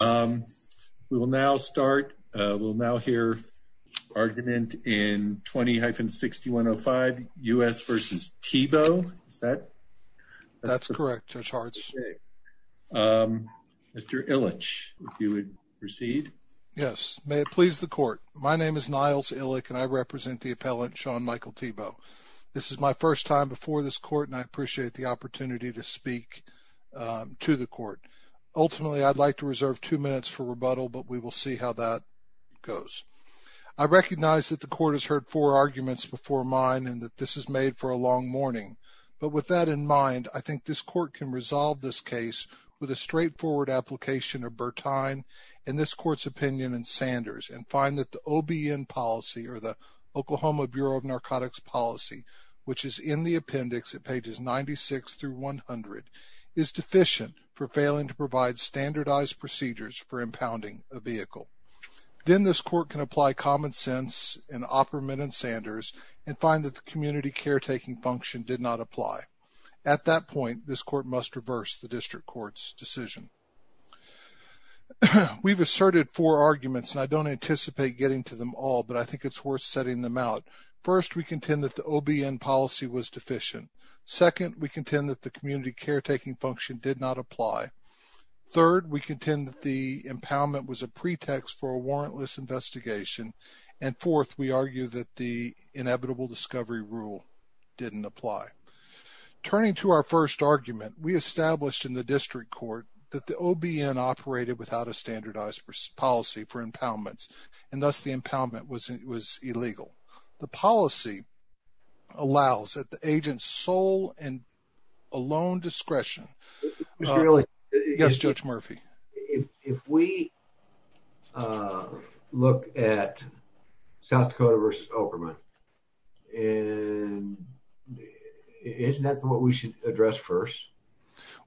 We will now start, we'll now hear argument in 20-6105 U.S. v. Thibeault, is that? That's correct, Judge Hartz. Mr. Illich, if you would proceed. Yes, may it please the court. My name is Niles Illich and I represent the appellant Sean Michael Thibeault. This is my first time before this court and I appreciate the opportunity to speak to the court. Ultimately, I'd like to reserve two minutes for rebuttal, but we will see how that goes. I recognize that the court has heard four arguments before mine and that this is made for a long morning. But with that in mind, I think this court can resolve this case with a straightforward application of Bertine and this court's opinion in Sanders and find that the OBN policy or the Oklahoma Bureau of Narcotics Policy, which is in the appendix at pages 96 through 100, is deficient for failing to provide standardized procedures for impounding a vehicle. Then this court can apply common sense and operament in Sanders and find that the community caretaking function did not apply. At that point, this court must reverse the district court's decision. We've asserted four arguments and I don't anticipate getting to them all, but I think it's worth setting them out. First, we contend that the OBN policy was deficient. Second, we contend that the community caretaking function did not apply. Third, we contend that the impoundment was a pretext for a warrantless investigation. And fourth, we argue that the inevitable discovery rule didn't apply. Turning to our first argument, we established in the district court that the OBN operated without a standardized policy for impoundments and thus the impoundment was illegal. The policy allows that the agent's sole and alone discretion. Mr. Ehrlich. Yes, Judge Murphy. If we look at South Dakota versus Operman, isn't that what we should address first?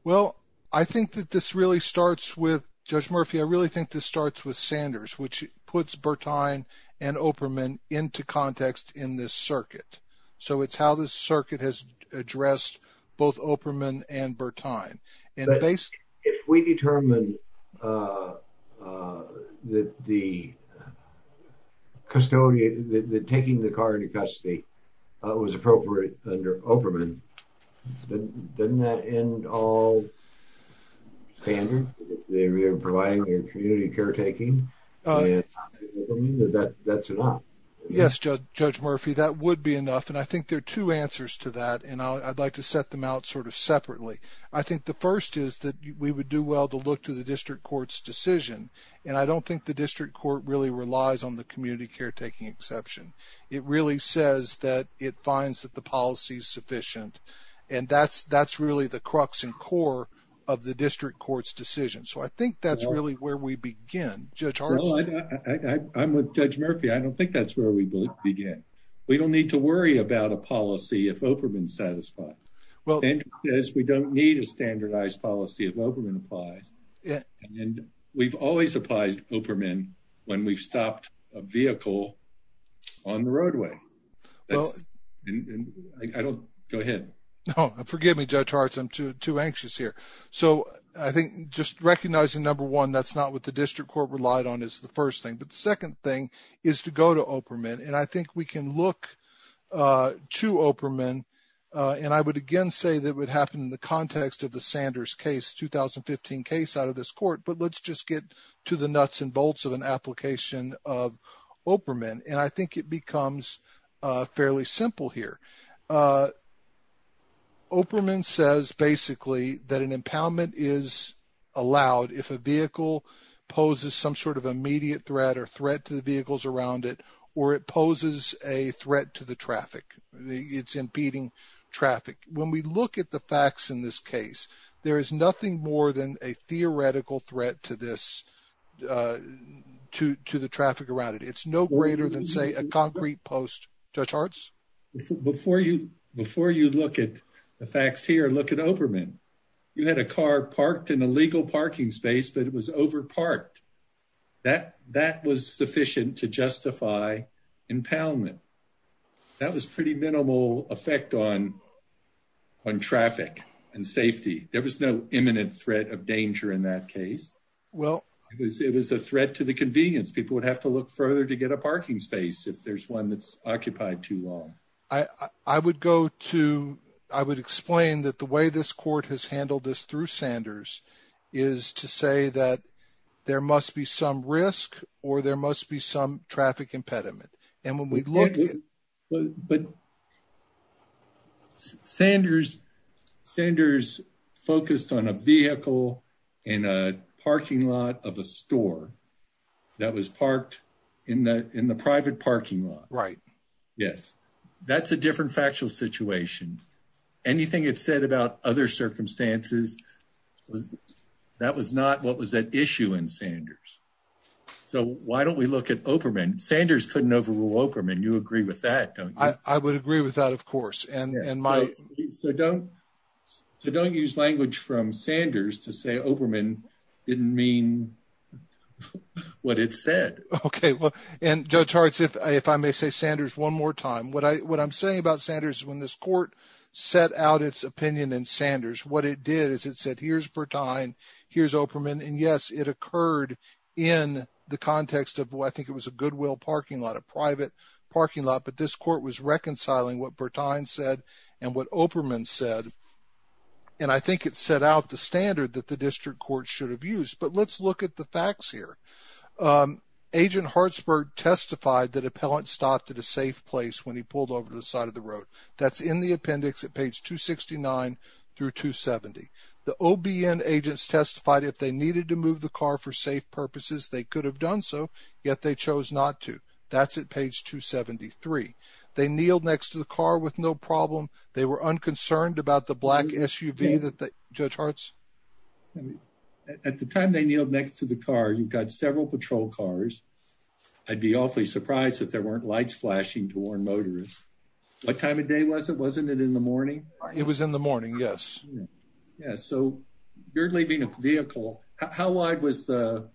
Well, I think that this really starts with, Judge Murphy, I really think this starts with the context in this circuit. So it's how this circuit has addressed both Operman and Bertine. If we determine that the custodian, that taking the car into custody was appropriate under Operman, doesn't that end all standard, that you're providing your community caretaking? That's enough. Yes, Judge Murphy, that would be enough. And I think there are two answers to that, and I'd like to set them out sort of separately. I think the first is that we would do well to look to the district court's decision, and I don't think the district court really relies on the community caretaking exception. It really says that it finds that the policy is sufficient, and that's really the crux and core of the district court's decision. So I think that's really where we begin. Judge Hartz. Well, I'm with Judge Murphy. I don't think that's where we begin. We don't need to worry about a policy if Operman's satisfied. We don't need a standardized policy if Operman applies, and we've always applied Operman when we've stopped a vehicle on the roadway. I don't... Go ahead. No, forgive me, Judge Hartz, I'm too anxious here. So I think just recognizing, number one, that's not what the district court relied on is the first thing. But the second thing is to go to Operman, and I think we can look to Operman, and I would again say that it would happen in the context of the Sanders case, 2015 case out of this court, but let's just get to the nuts and bolts of an application of Operman. And I think it becomes fairly simple here. Operman says, basically, that an impoundment is allowed if a vehicle poses some sort of immediate threat or threat to the vehicles around it, or it poses a threat to the traffic. It's impeding traffic. When we look at the facts in this case, there is nothing more than a theoretical threat to this, to the traffic around it. It's no greater than, say, a concrete post. Judge Hartz? Before you look at the facts here, look at Operman. You had a car parked in a legal parking space, but it was over parked. That was sufficient to justify impoundment. That was pretty minimal effect on traffic and safety. There was no imminent threat of danger in that case. It was a threat to the convenience. People would have to look further to get a parking space if there's one that's occupied too long. I would go to... I would explain that the way this court has handled this through Sanders is to say that there must be some risk or there must be some traffic impediment. And when we look at... But Sanders focused on a vehicle in a parking lot of a store that was parked in the private parking lot. Right. Yes. That's a different factual situation. Anything it said about other circumstances, that was not what was at issue in Sanders. So why don't we look at Operman? Sanders couldn't overrule Operman. You agree with that, don't you? I would agree with that, of course. And my... So don't use language from Sanders to say Operman didn't mean what it said. Okay. And Judge Hartz, if I may say Sanders one more time, what I'm saying about Sanders is when this court set out its opinion in Sanders, what it did is it said, here's Bertine, here's Operman. And yes, it occurred in the context of what I think it was a Goodwill parking lot, a private parking lot. But this court was reconciling what Bertine said and what Operman said. And I think it set out the standard that the district court should have used. But let's look at the facts here. Agent Hartzberg testified that appellant stopped at a safe place when he pulled over the side of the road. That's in the appendix at page 269 through 270. The OBN agents testified if they needed to move the car for safe purposes, they could have done so, yet they chose not to. That's at page 273. They kneeled next to the car with no problem. They were unconcerned about the black SUV that the... Judge Hartz? At the time they kneeled next to the car, you've got several patrol cars. I'd be awfully surprised if there weren't lights flashing to warn motorists. What time of day was it? Wasn't it in the morning? It was in the morning, yes. Yeah. So you're leaving a vehicle. How wide was the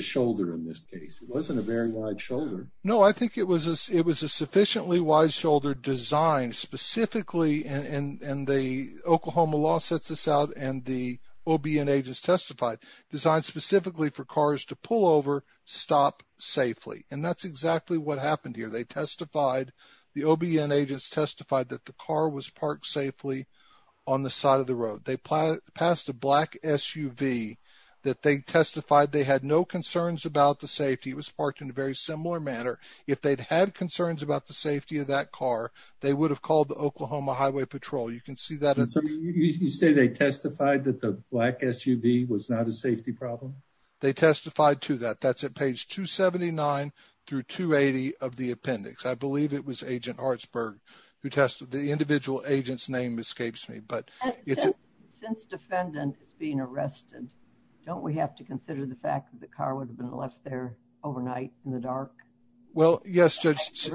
shoulder in this case? It wasn't a very wide shoulder. No, I think it was a sufficiently wide shoulder designed specifically, and the Oklahoma law sets this out, and the OBN agents testified, designed specifically for cars to pull over, stop safely. And that's exactly what happened here. They testified, the OBN agents testified that the car was parked safely on the side of the road. They passed a black SUV that they testified they had no concerns about the safety. It was parked in a very similar manner. If they'd had concerns about the safety of that car, they would have called the Oklahoma Highway Patrol. You can see that... You say they testified that the black SUV was not a safety problem? They testified to that. That's at page 279 through 280 of the appendix. I believe it was Agent Hartsburg who tested... The individual agent's name escapes me, but it's... Since defendant is being arrested, don't we have to consider the fact that the car would have been left there overnight in the dark? Well, yes, Judge...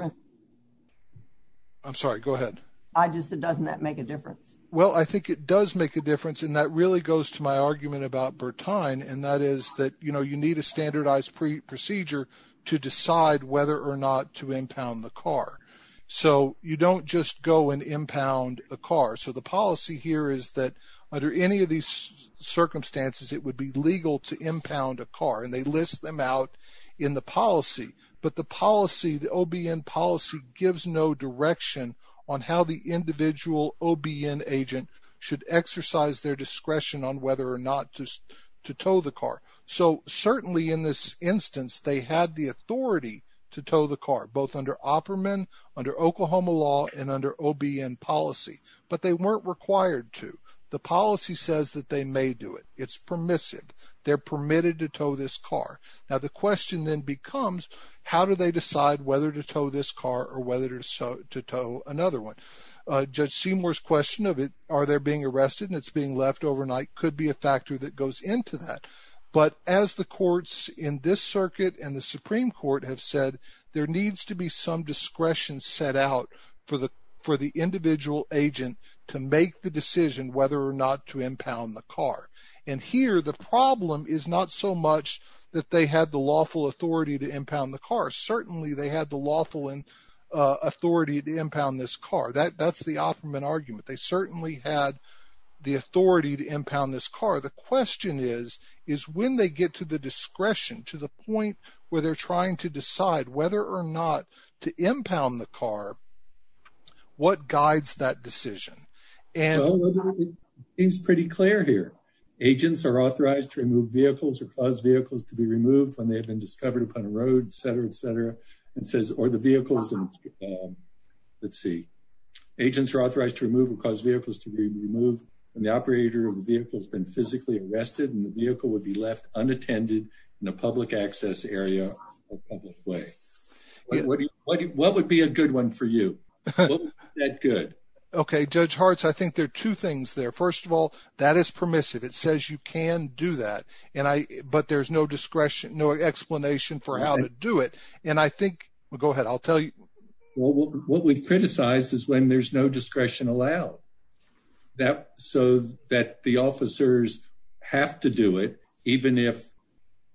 I'm sorry, go ahead. I just... Doesn't that make a difference? Well, I think it does make a difference, and that really goes to my argument about Bertine, and that is that you need a standardized procedure to decide whether or not to impound the car. So you don't just go and impound a car. So the policy here is that under any of these circumstances, it would be legal to impound a car, and they list them out in the policy. But the policy, the OBN policy, gives no direction on how the individual OBN agent should exercise their discretion on whether or not to tow the car. So certainly in this instance, they had the authority to tow the car, both under Opperman, under Oklahoma law, and under OBN policy, but they weren't required to. The policy says that they may do it. It's permissive. They're permitted to tow this car. Now, the question then becomes, how do they decide whether to tow this car or whether to tow another one? Judge Seymour's question of it, are they being arrested and it's being left overnight, could be a factor that goes into that. But as the courts in this circuit and the Supreme Court have said, there needs to be some discretion set out for the individual agent to make the decision whether or not to impound the car. And here, the problem is not so much that they had the lawful authority to impound the car, certainly they had the lawful authority to impound this car. That's the Opperman argument. They certainly had the authority to impound this car. The question is, is when they get to the discretion, to the point where they're trying to decide whether or not to impound the car, what guides that decision? And it's pretty clear here, agents are authorized to remove vehicles or cause vehicles to be removed when they have been discovered upon a road, et cetera, et cetera, and says, or the vehicles and let's see, agents are authorized to remove or cause vehicles to be removed when the operator of the vehicle has been physically arrested and the vehicle would be left unattended in a public access area or public way. What would be a good one for you? That good. OK, Judge Hartz, I think there are two things there. First of all, that is permissive. It says you can do that. And I but there's no discretion, no explanation for how to do it. And I think we'll go ahead. I'll tell you what we've criticized is when there's no discretion allowed that so that the officers have to do it, even if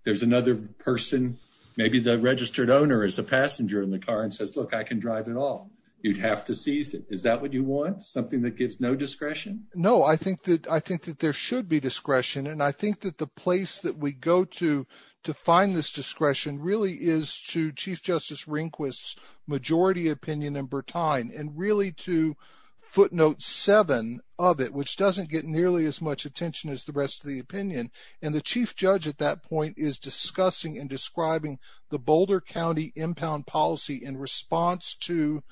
there's another person, maybe the registered owner is a passenger in the car and says, look, I can drive it all. You'd have to seize it. Is that what you want, something that gives no discretion? No, I think that I think that there should be discretion. And I think that the place that we go to to find this discretion really is to Chief Justice Rehnquist's majority opinion in Bertine and really to footnote seven of it, which doesn't get nearly as much attention as the rest of the opinion. And the chief judge at that point is discussing and describing the Boulder County impound policy in response to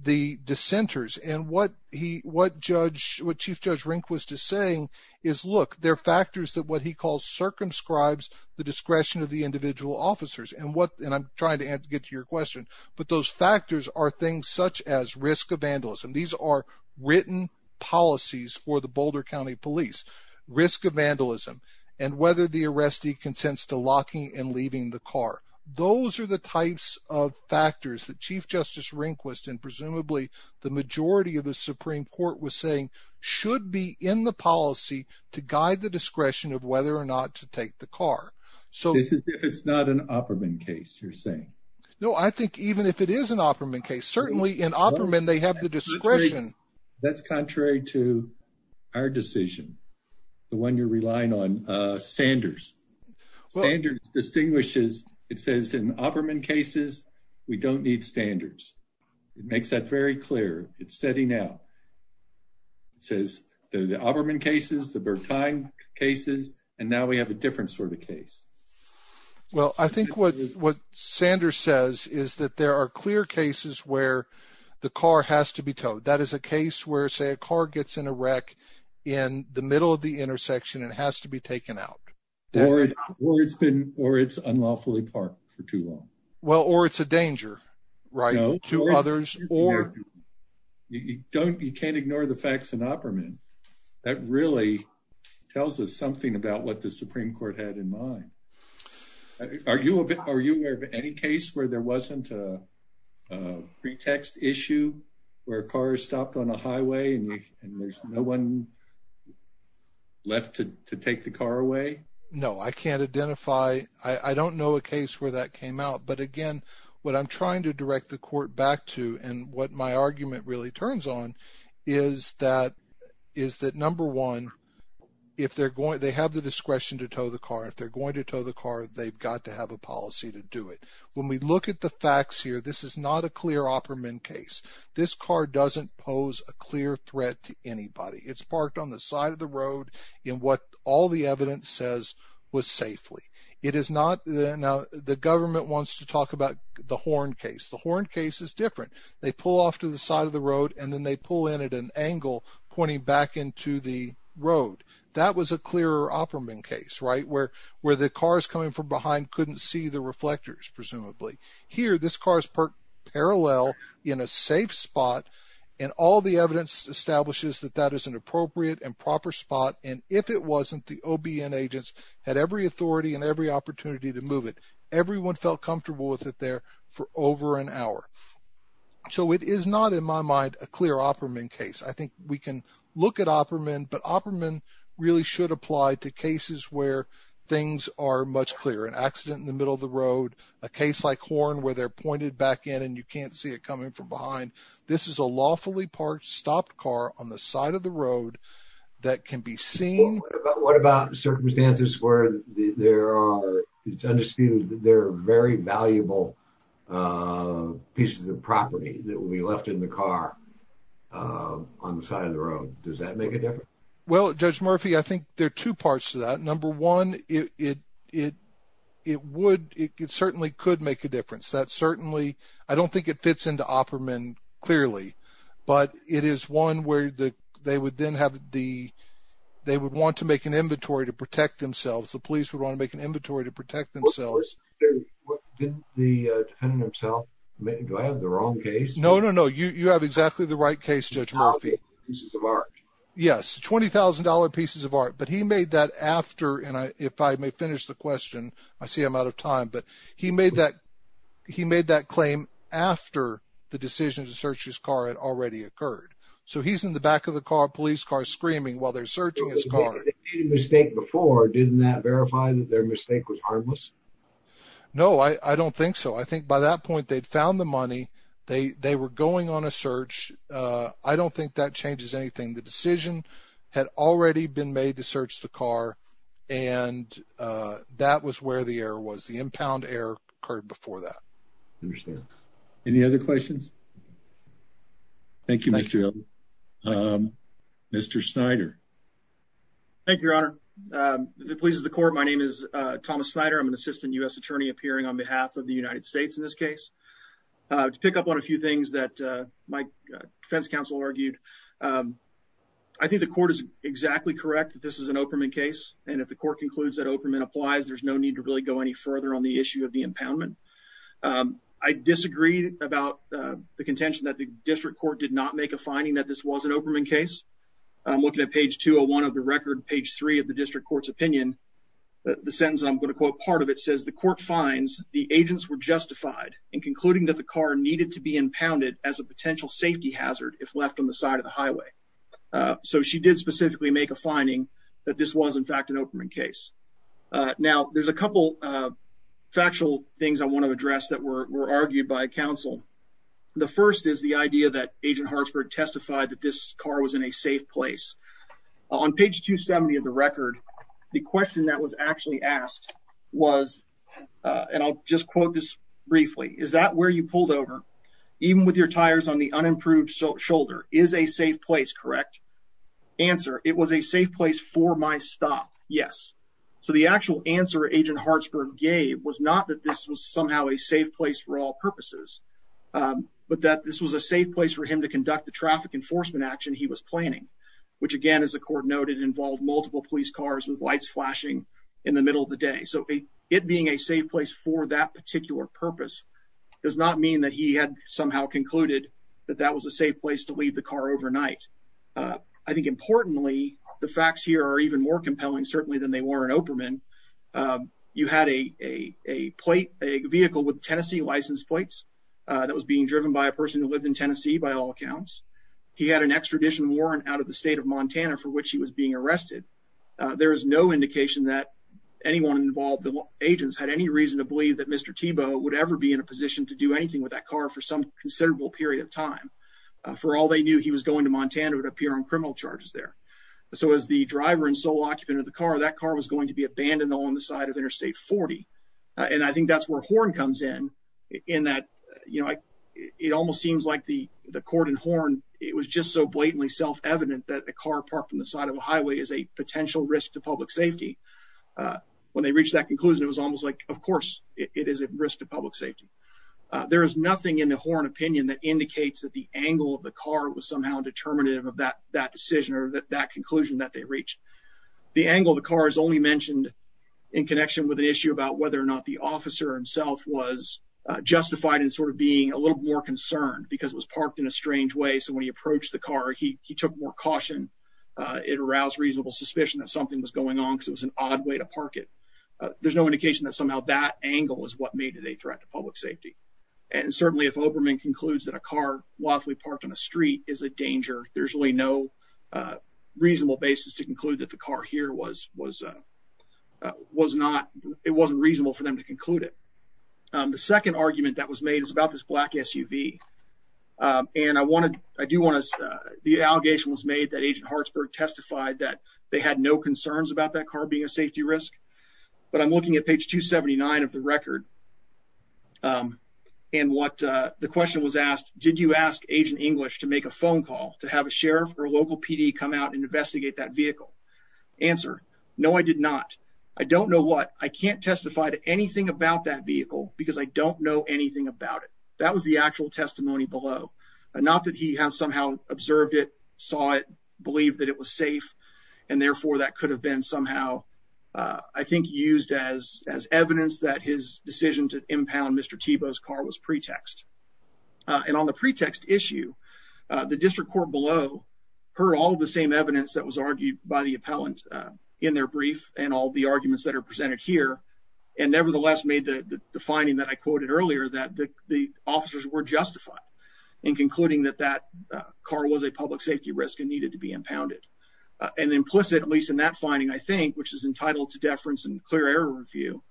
the dissenters. And what he what judge what Chief Judge Rehnquist is saying is, look, there are factors that what he calls circumscribes the discretion of the individual officers and what and I'm trying to get to your question. But those factors are things such as risk of vandalism. These are written policies for the Boulder County police risk of vandalism and whether the arrestee consents to locking and leaving the car. Those are the types of factors that Chief Justice Rehnquist and presumably the majority of the Supreme Court was saying should be in the policy to guide the discretion of whether or not to take the car. So if it's not an Opperman case, you're saying. No, I think even if it is an Opperman case, certainly in Opperman, they have the discretion. That's contrary to our decision, the one you're relying on. Sanders Sanders distinguishes, it says in Opperman cases, we don't need standards. It makes that very clear. It's setting out. It says the Opperman cases, the Bertine cases, and now we have a different sort of case. Well, I think what what Sanders says is that there are clear cases where the car has to be towed. That is a case where, say, a car gets in a wreck in the middle of the out or it's been or it's unlawfully parked for too long. Well, or it's a danger to others or you don't you can't ignore the facts in Opperman. That really tells us something about what the Supreme Court had in mind. Are you aware of any case where there wasn't a pretext issue where cars stopped on a way? No, I can't identify. I don't know a case where that came out. But again, what I'm trying to direct the court back to and what my argument really turns on is that is that, number one, if they're going to have the discretion to tow the car, if they're going to tow the car, they've got to have a policy to do it. When we look at the facts here, this is not a clear Opperman case. This car doesn't pose a clear threat to anybody. It's parked on the side of the road in what all the evidence says was safely. It is not. Now, the government wants to talk about the Horn case. The Horn case is different. They pull off to the side of the road and then they pull in at an angle pointing back into the road. That was a clear Opperman case, right, where where the cars coming from behind couldn't see the reflectors. Presumably here, this car is parked parallel in a safe spot. And all the evidence establishes that that is an appropriate and proper spot. And if it wasn't, the OBN agents had every authority and every opportunity to move it. Everyone felt comfortable with it there for over an hour. So it is not, in my mind, a clear Opperman case. I think we can look at Opperman, but Opperman really should apply to cases where things are much clearer. An accident in the middle of the road, a case like Horn where they're pointed back in and you can't see it coming from behind. This is a lawfully parked, stopped car on the side of the road that can be seen. What about circumstances where there are, it's undisputed, they're very valuable pieces of property that will be left in the car on the side of the road? Does that make a difference? Well, Judge Murphy, I think there are two parts to that. Number one, it it it would it certainly could make a difference. That certainly, I don't think it fits into Opperman clearly, but it is one where they would then have the, they would want to make an inventory to protect themselves. The police would want to make an inventory to protect themselves. The defendant himself, do I have the wrong case? No, no, no. You have exactly the right case, Judge Murphy. Yes. $20,000 pieces of art. But he made that after, and if I may finish the question, I see I'm out of time, but he made that, he made that claim after the decision to search his car had already occurred. So he's in the back of the car, police car screaming while they're searching his car. They made a mistake before. Didn't that verify that their mistake was harmless? No, I don't think so. I think by that point they'd found the money. They, they were going on a search. Uh, I don't think that changes anything. The decision had already been made to search the car. And, uh, that was where the error was. The impound error occurred before that. Any other questions? Thank you, Mr. Um, Mr. Snyder. Thank you, Your Honor. Um, if it pleases the court, my name is, uh, Thomas Snyder. I'm an assistant U.S. attorney appearing on behalf of the United States in this case. Uh, to pick up on a few things that, uh, my defense counsel argued. Um, I think the court is exactly correct that this is an Operman case. And if the court concludes that Operman applies, there's no need to really go any further on the issue of the impoundment. Um, I disagree about, uh, the contention that the district court did not make a finding that this was an Operman case. I'm looking at page 201 of the record, page three of the district court's opinion. The sentence I'm going to quote part of it says the court finds the agents were justified in concluding that the car needed to be impounded as a potential safety hazard if left on the side of the highway. Uh, so she did specifically make a finding that this was in fact an Operman case. Uh, now there's a couple, uh, factual things I want to address that were, were argued by counsel. The first is the idea that agent Hartsburg testified that this car was in a safe place. On page 270 of the record, the question that was actually asked was, uh, and I'll just quote this briefly. Is that where you pulled over even with your tires on the unimproved shoulder is a safe place, correct? Answer. It was a safe place for my stop. Yes. So the actual answer agent Hartsburg gave was not that this was somehow a safe place for all purposes. Um, but that this was a safe place for him to conduct the traffic enforcement action he was planning, which again, as the court noted, involved multiple police cars with lights flashing in the middle of the day. So it being a safe place for that particular purpose does not mean that he had somehow concluded that that was a safe place to leave the car overnight. Uh, the second thing that I want to point out is that, uh, the, uh, the case that we're looking at here, uh, is a case that's a little bit more complicated than they were in Oprahman. Um, you had a, a, a plate, a vehicle with Tennessee license plates, uh, that was being driven by a person who lived in Tennessee, by all accounts. He had an extradition warrant out of the state of Montana for which he was being arrested. Uh, there is no indication that anyone involved, the agents had any reason to believe that Mr. Tebow would ever be in a position to do anything with that car for some considerable period of time. Uh, for all they knew he was going to Montana would appear on criminal charges there. So as the driver and sole occupant of the car, that car was going to be abandoned on the side of interstate 40. And I think that's where Horn comes in, in that, you know, I, it almost seems like the, the court in Horn, it was just so blatantly self-evident that the car parked on the side of a highway is a potential risk to public safety, uh, when they reached that conclusion, it was almost like, of it is a risk to public safety. Uh, there is nothing in the Horn opinion that indicates that the angle of the car was somehow determinative of that, that decision or that, that conclusion that they reached. The angle of the car is only mentioned in connection with an issue about whether or not the officer himself was justified in sort of being a little more concerned because it was parked in a strange way. So when he approached the car, he, he took more caution. Uh, it aroused reasonable suspicion that something was going on because it was an odd way to park it. Uh, there's no indication that somehow that angle is what made it a threat to public safety. And certainly if Oberman concludes that a car, while if we parked on a street is a danger, there's really no, uh, reasonable basis to conclude that the car here was, was, uh, uh, was not, it wasn't reasonable for them to conclude it. Um, the second argument that was made is about this black SUV. Um, and I want to, I do want to, uh, the allegation was made that agent Hartsburg testified that they had no concerns about that car being a safety risk, but I'm looking at page 279 of the record, um, and what, uh, the question was asked, did you ask agent English to make a phone call to have a sheriff or local PD come out and investigate that vehicle answer? No, I did not. I don't know what, I can't testify to anything about that vehicle because I don't know anything about it. That was the actual testimony below. Uh, not that he has somehow observed it, saw it, believe that it was safe. And therefore that could have been somehow, uh, I think used as, as evidence that his decision to impound Mr. Thiebaud's car was pretext. Uh, and on the pretext issue, uh, the district court below heard all of the same evidence that was argued by the appellant, uh, in their brief and all the arguments that are presented here. And nevertheless made the defining that I quoted earlier that the officers were justified in concluding that that, uh, car was a public safety risk and needed to be impounded. Uh, and implicit, at least in that finding, I think, which is entitled to deference and clear error review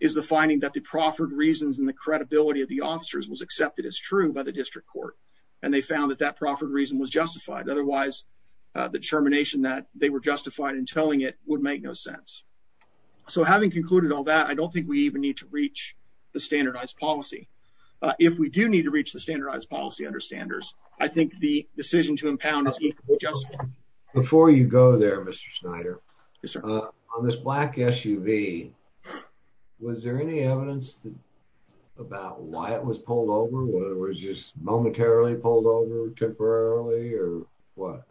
is the finding that the proffered reasons and the credibility of the officers was accepted as true by the district court. And they found that that proffered reason was justified. Otherwise, uh, the determination that they were justified in telling it would make no sense. So having concluded all that, I don't think we even need to reach the standardized policy. Uh, if we do need to reach the standardized policy understanders, I think the decision to impound is just. Before you go there, Mr. Schneider, on this black SUV, was there any evidence about why it was pulled over, whether it was just momentarily pulled over temporarily or what?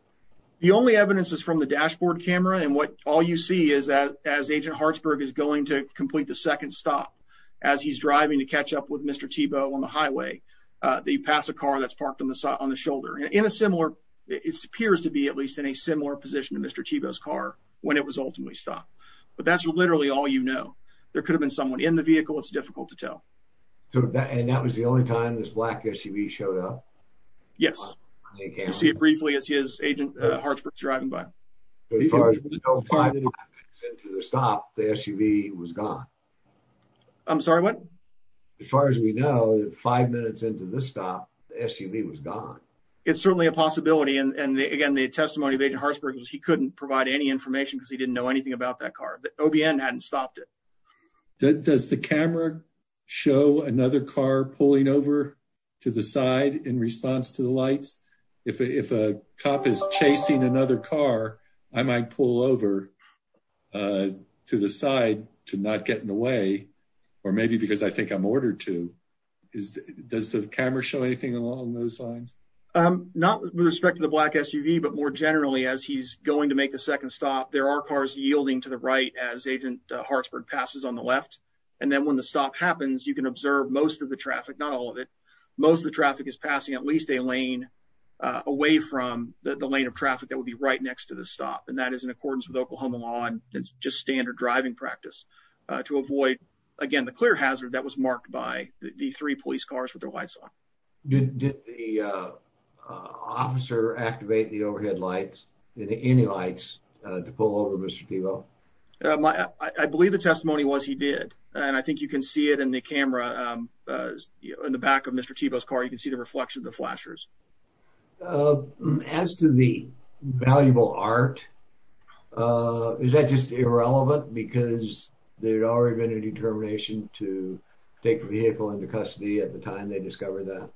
The only evidence is from the dashboard camera. And what all you see is that as agent Hartsburg is going to complete the second stop, as he's driving to catch up with Mr. Tebow on the highway, uh, they pass a car that's parked on the side, on the highway, at least in a similar position to Mr. Tebow's car when it was ultimately stopped. But that's literally all, you know, there could have been someone in the vehicle. It's difficult to tell. So that, and that was the only time this black SUV showed up? Yes. You'll see it briefly as his agent Hartsburg is driving by. As far as we know, five minutes into the stop, the SUV was gone. I'm sorry, what? As far as we know, five minutes into this stop, the SUV was gone. It's certainly a possibility. And again, the testimony of agent Hartsburg was he couldn't provide any information because he didn't know anything about that car. The OBN hadn't stopped it. Does the camera show another car pulling over to the side in response to the lights? If a cop is chasing another car, I might pull over, uh, to the side to not get in the way, or maybe because I think I'm ordered to, is, does the camera show anything along those lines? Um, not with respect to the black SUV, but more generally, as he's going to make the second stop, there are cars yielding to the right as agent Hartsburg passes on the left, and then when the stop happens, you can observe most of the traffic, not all of it. Most of the traffic is passing at least a lane away from the lane of traffic that would be right next to the stop. And that is in accordance with Oklahoma law, and it's just standard driving practice to avoid, again, the clear hazard that was marked by the three police cars with their lights on. Did the officer activate the overhead lights, any lights, to pull over Mr. Thiebaud? I believe the testimony was he did. And I think you can see it in the camera, um, in the back of Mr. Thiebaud's car, you can see the reflection of the flashers. Um, as to the valuable art, uh, is that just irrelevant because there'd already been a determination to take the vehicle into custody at the time they discovered that?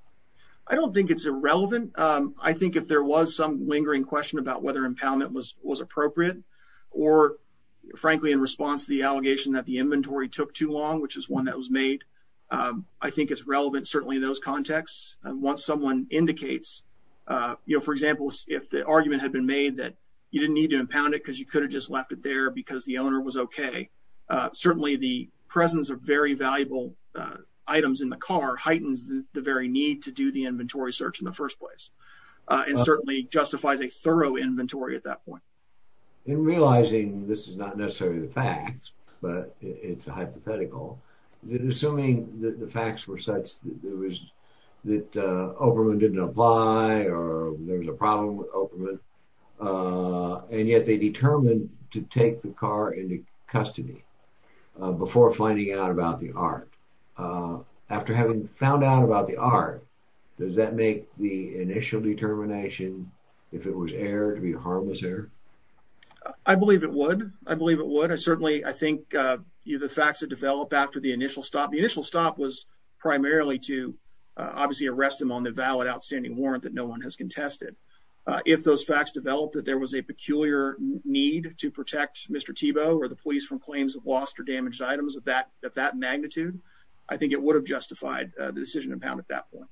I don't think it's irrelevant. Um, I think if there was some lingering question about whether impoundment was, was appropriate or frankly, in response to the allegation that the inventory took too long, which is one that was made, um, I think it's relevant, certainly in those contexts, once someone indicates, uh, you know, for example, if the argument had been made that you didn't need to impound it cause you could have just left it there because the owner was okay. Uh, certainly the presence of very valuable, uh, items in the car heightens the very need to do the inventory search in the first place. Uh, it certainly justifies a thorough inventory at that point. And realizing this is not necessarily the facts, but it's a hypothetical. Is it assuming that the facts were such that there was, that, uh, Oberman didn't apply or there was a problem with Oberman, uh, and yet they determined to take the car into custody, uh, before finding out about the art, uh, after having found out about the art, does that make the initial determination if it was error to be harmless error? I believe it would. I believe it would. I certainly, I think, uh, the facts that develop after the initial stop, the initial stop was primarily to, uh, obviously arrest him on the valid outstanding warrant that no one has contested. Uh, if those facts developed that there was a peculiar need to protect Mr. Tebow or the police from claims of lost or damaged items of that, of that at that point.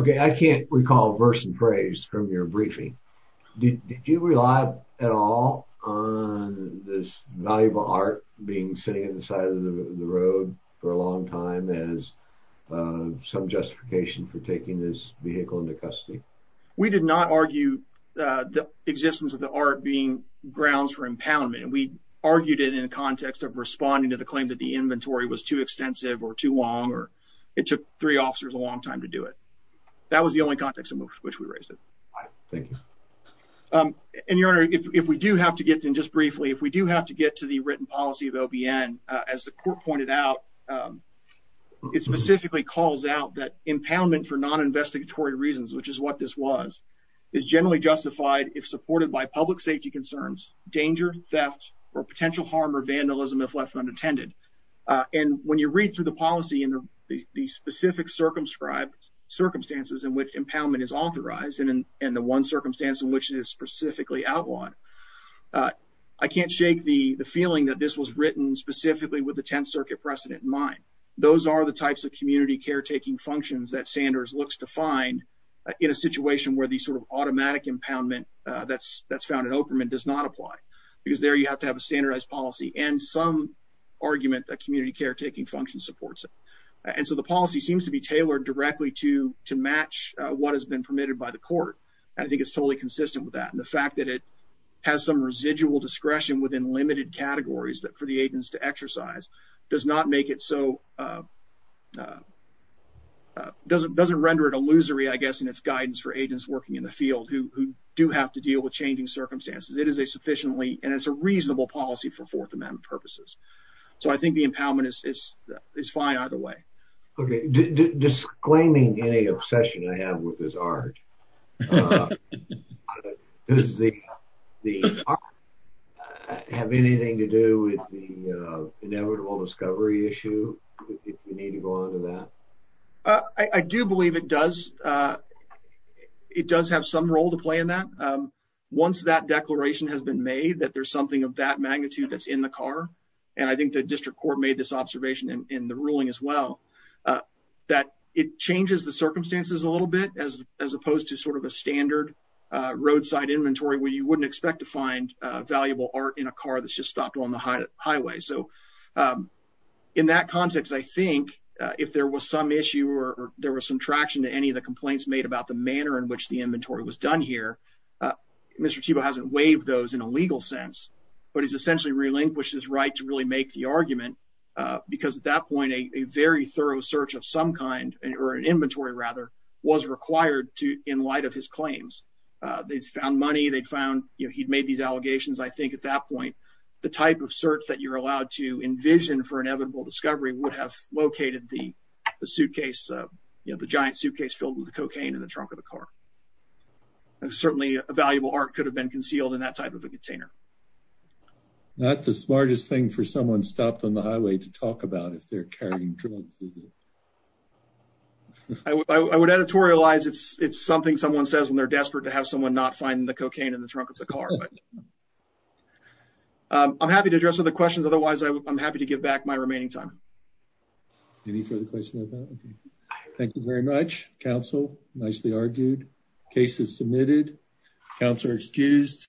Okay. I can't recall verse and phrase from your briefing. Did you rely at all on this valuable art being sitting at the side of the road for a long time as, uh, some justification for taking this vehicle into custody? We did not argue, uh, the existence of the art being grounds for impoundment. And we argued it in context of responding to the claim that the inventory was too long time to do it. That was the only context in which we raised it. Um, and your honor, if, if we do have to get in just briefly, if we do have to get to the written policy of OBN, uh, as the court pointed out, um, it specifically calls out that impoundment for non investigatory reasons, which is what this was, is generally justified if supported by public safety concerns, danger, theft, or potential harm or vandalism if left unattended. Uh, and when you read through the policy and the specific circumscribed circumstances in which impoundment is authorized and, and the one circumstance in which it is specifically outlined, uh, I can't shake the feeling that this was written specifically with the 10th circuit precedent in mind, those are the types of community caretaking functions that Sanders looks to find in a situation where the sort of automatic impoundment, uh, that's, that's found in Oakerman does not apply because there you have to have a standardized policy. And some argument that community caretaking function supports it. And so the policy seems to be tailored directly to, to match what has been permitted by the court. And I think it's totally consistent with that. And the fact that it has some residual discretion within limited categories that for the agents to exercise does not make it so, uh, uh, uh, doesn't, doesn't render it illusory, I guess. And it's guidance for agents working in the field who do have to deal with changing circumstances. It is a sufficiently, and it's a reasonable policy for fourth amendment purposes, so I think the impoundment is, is, is fine either way. Okay. D-d-d-disclaiming any obsession I have with this art, uh, does the, the art have anything to do with the, uh, inevitable discovery issue if you need to go on to that, uh, I, I do believe it does, uh, it does have some role to play in that. Um, once that declaration has been made that there's something of that magnitude that's in the car, and I think the district court made this observation in the ruling as well, uh, that it changes the circumstances a little bit as, as opposed to sort of a standard, uh, roadside inventory where you wouldn't expect to find a valuable art in a car that's just stopped on the highway. So, um, in that context, I think, uh, if there was some issue or there was some traction to any of the complaints made about the manner in which the Mr. Thiebaud hasn't waived those in a legal sense, but he's essentially relinquished his right to really make the argument, uh, because at that point, a very thorough search of some kind or an inventory rather was required to, in light of his claims, uh, they found money they'd found, you know, he'd made these allegations. I think at that point, the type of search that you're allowed to envision for inevitable discovery would have located the, the suitcase, uh, you know, the giant suitcase filled with the cocaine in the trunk of the car. Certainly a valuable art could have been concealed in that type of a container. Not the smartest thing for someone stopped on the highway to talk about if they're carrying drugs. I would editorialize. It's, it's something someone says when they're desperate to have someone not find the cocaine in the trunk of the car. Um, I'm happy to address other questions. Otherwise I'm happy to give back my remaining time. Any further questions? Thank you very much. Counsel, nicely argued. Case is submitted. Counselor excused.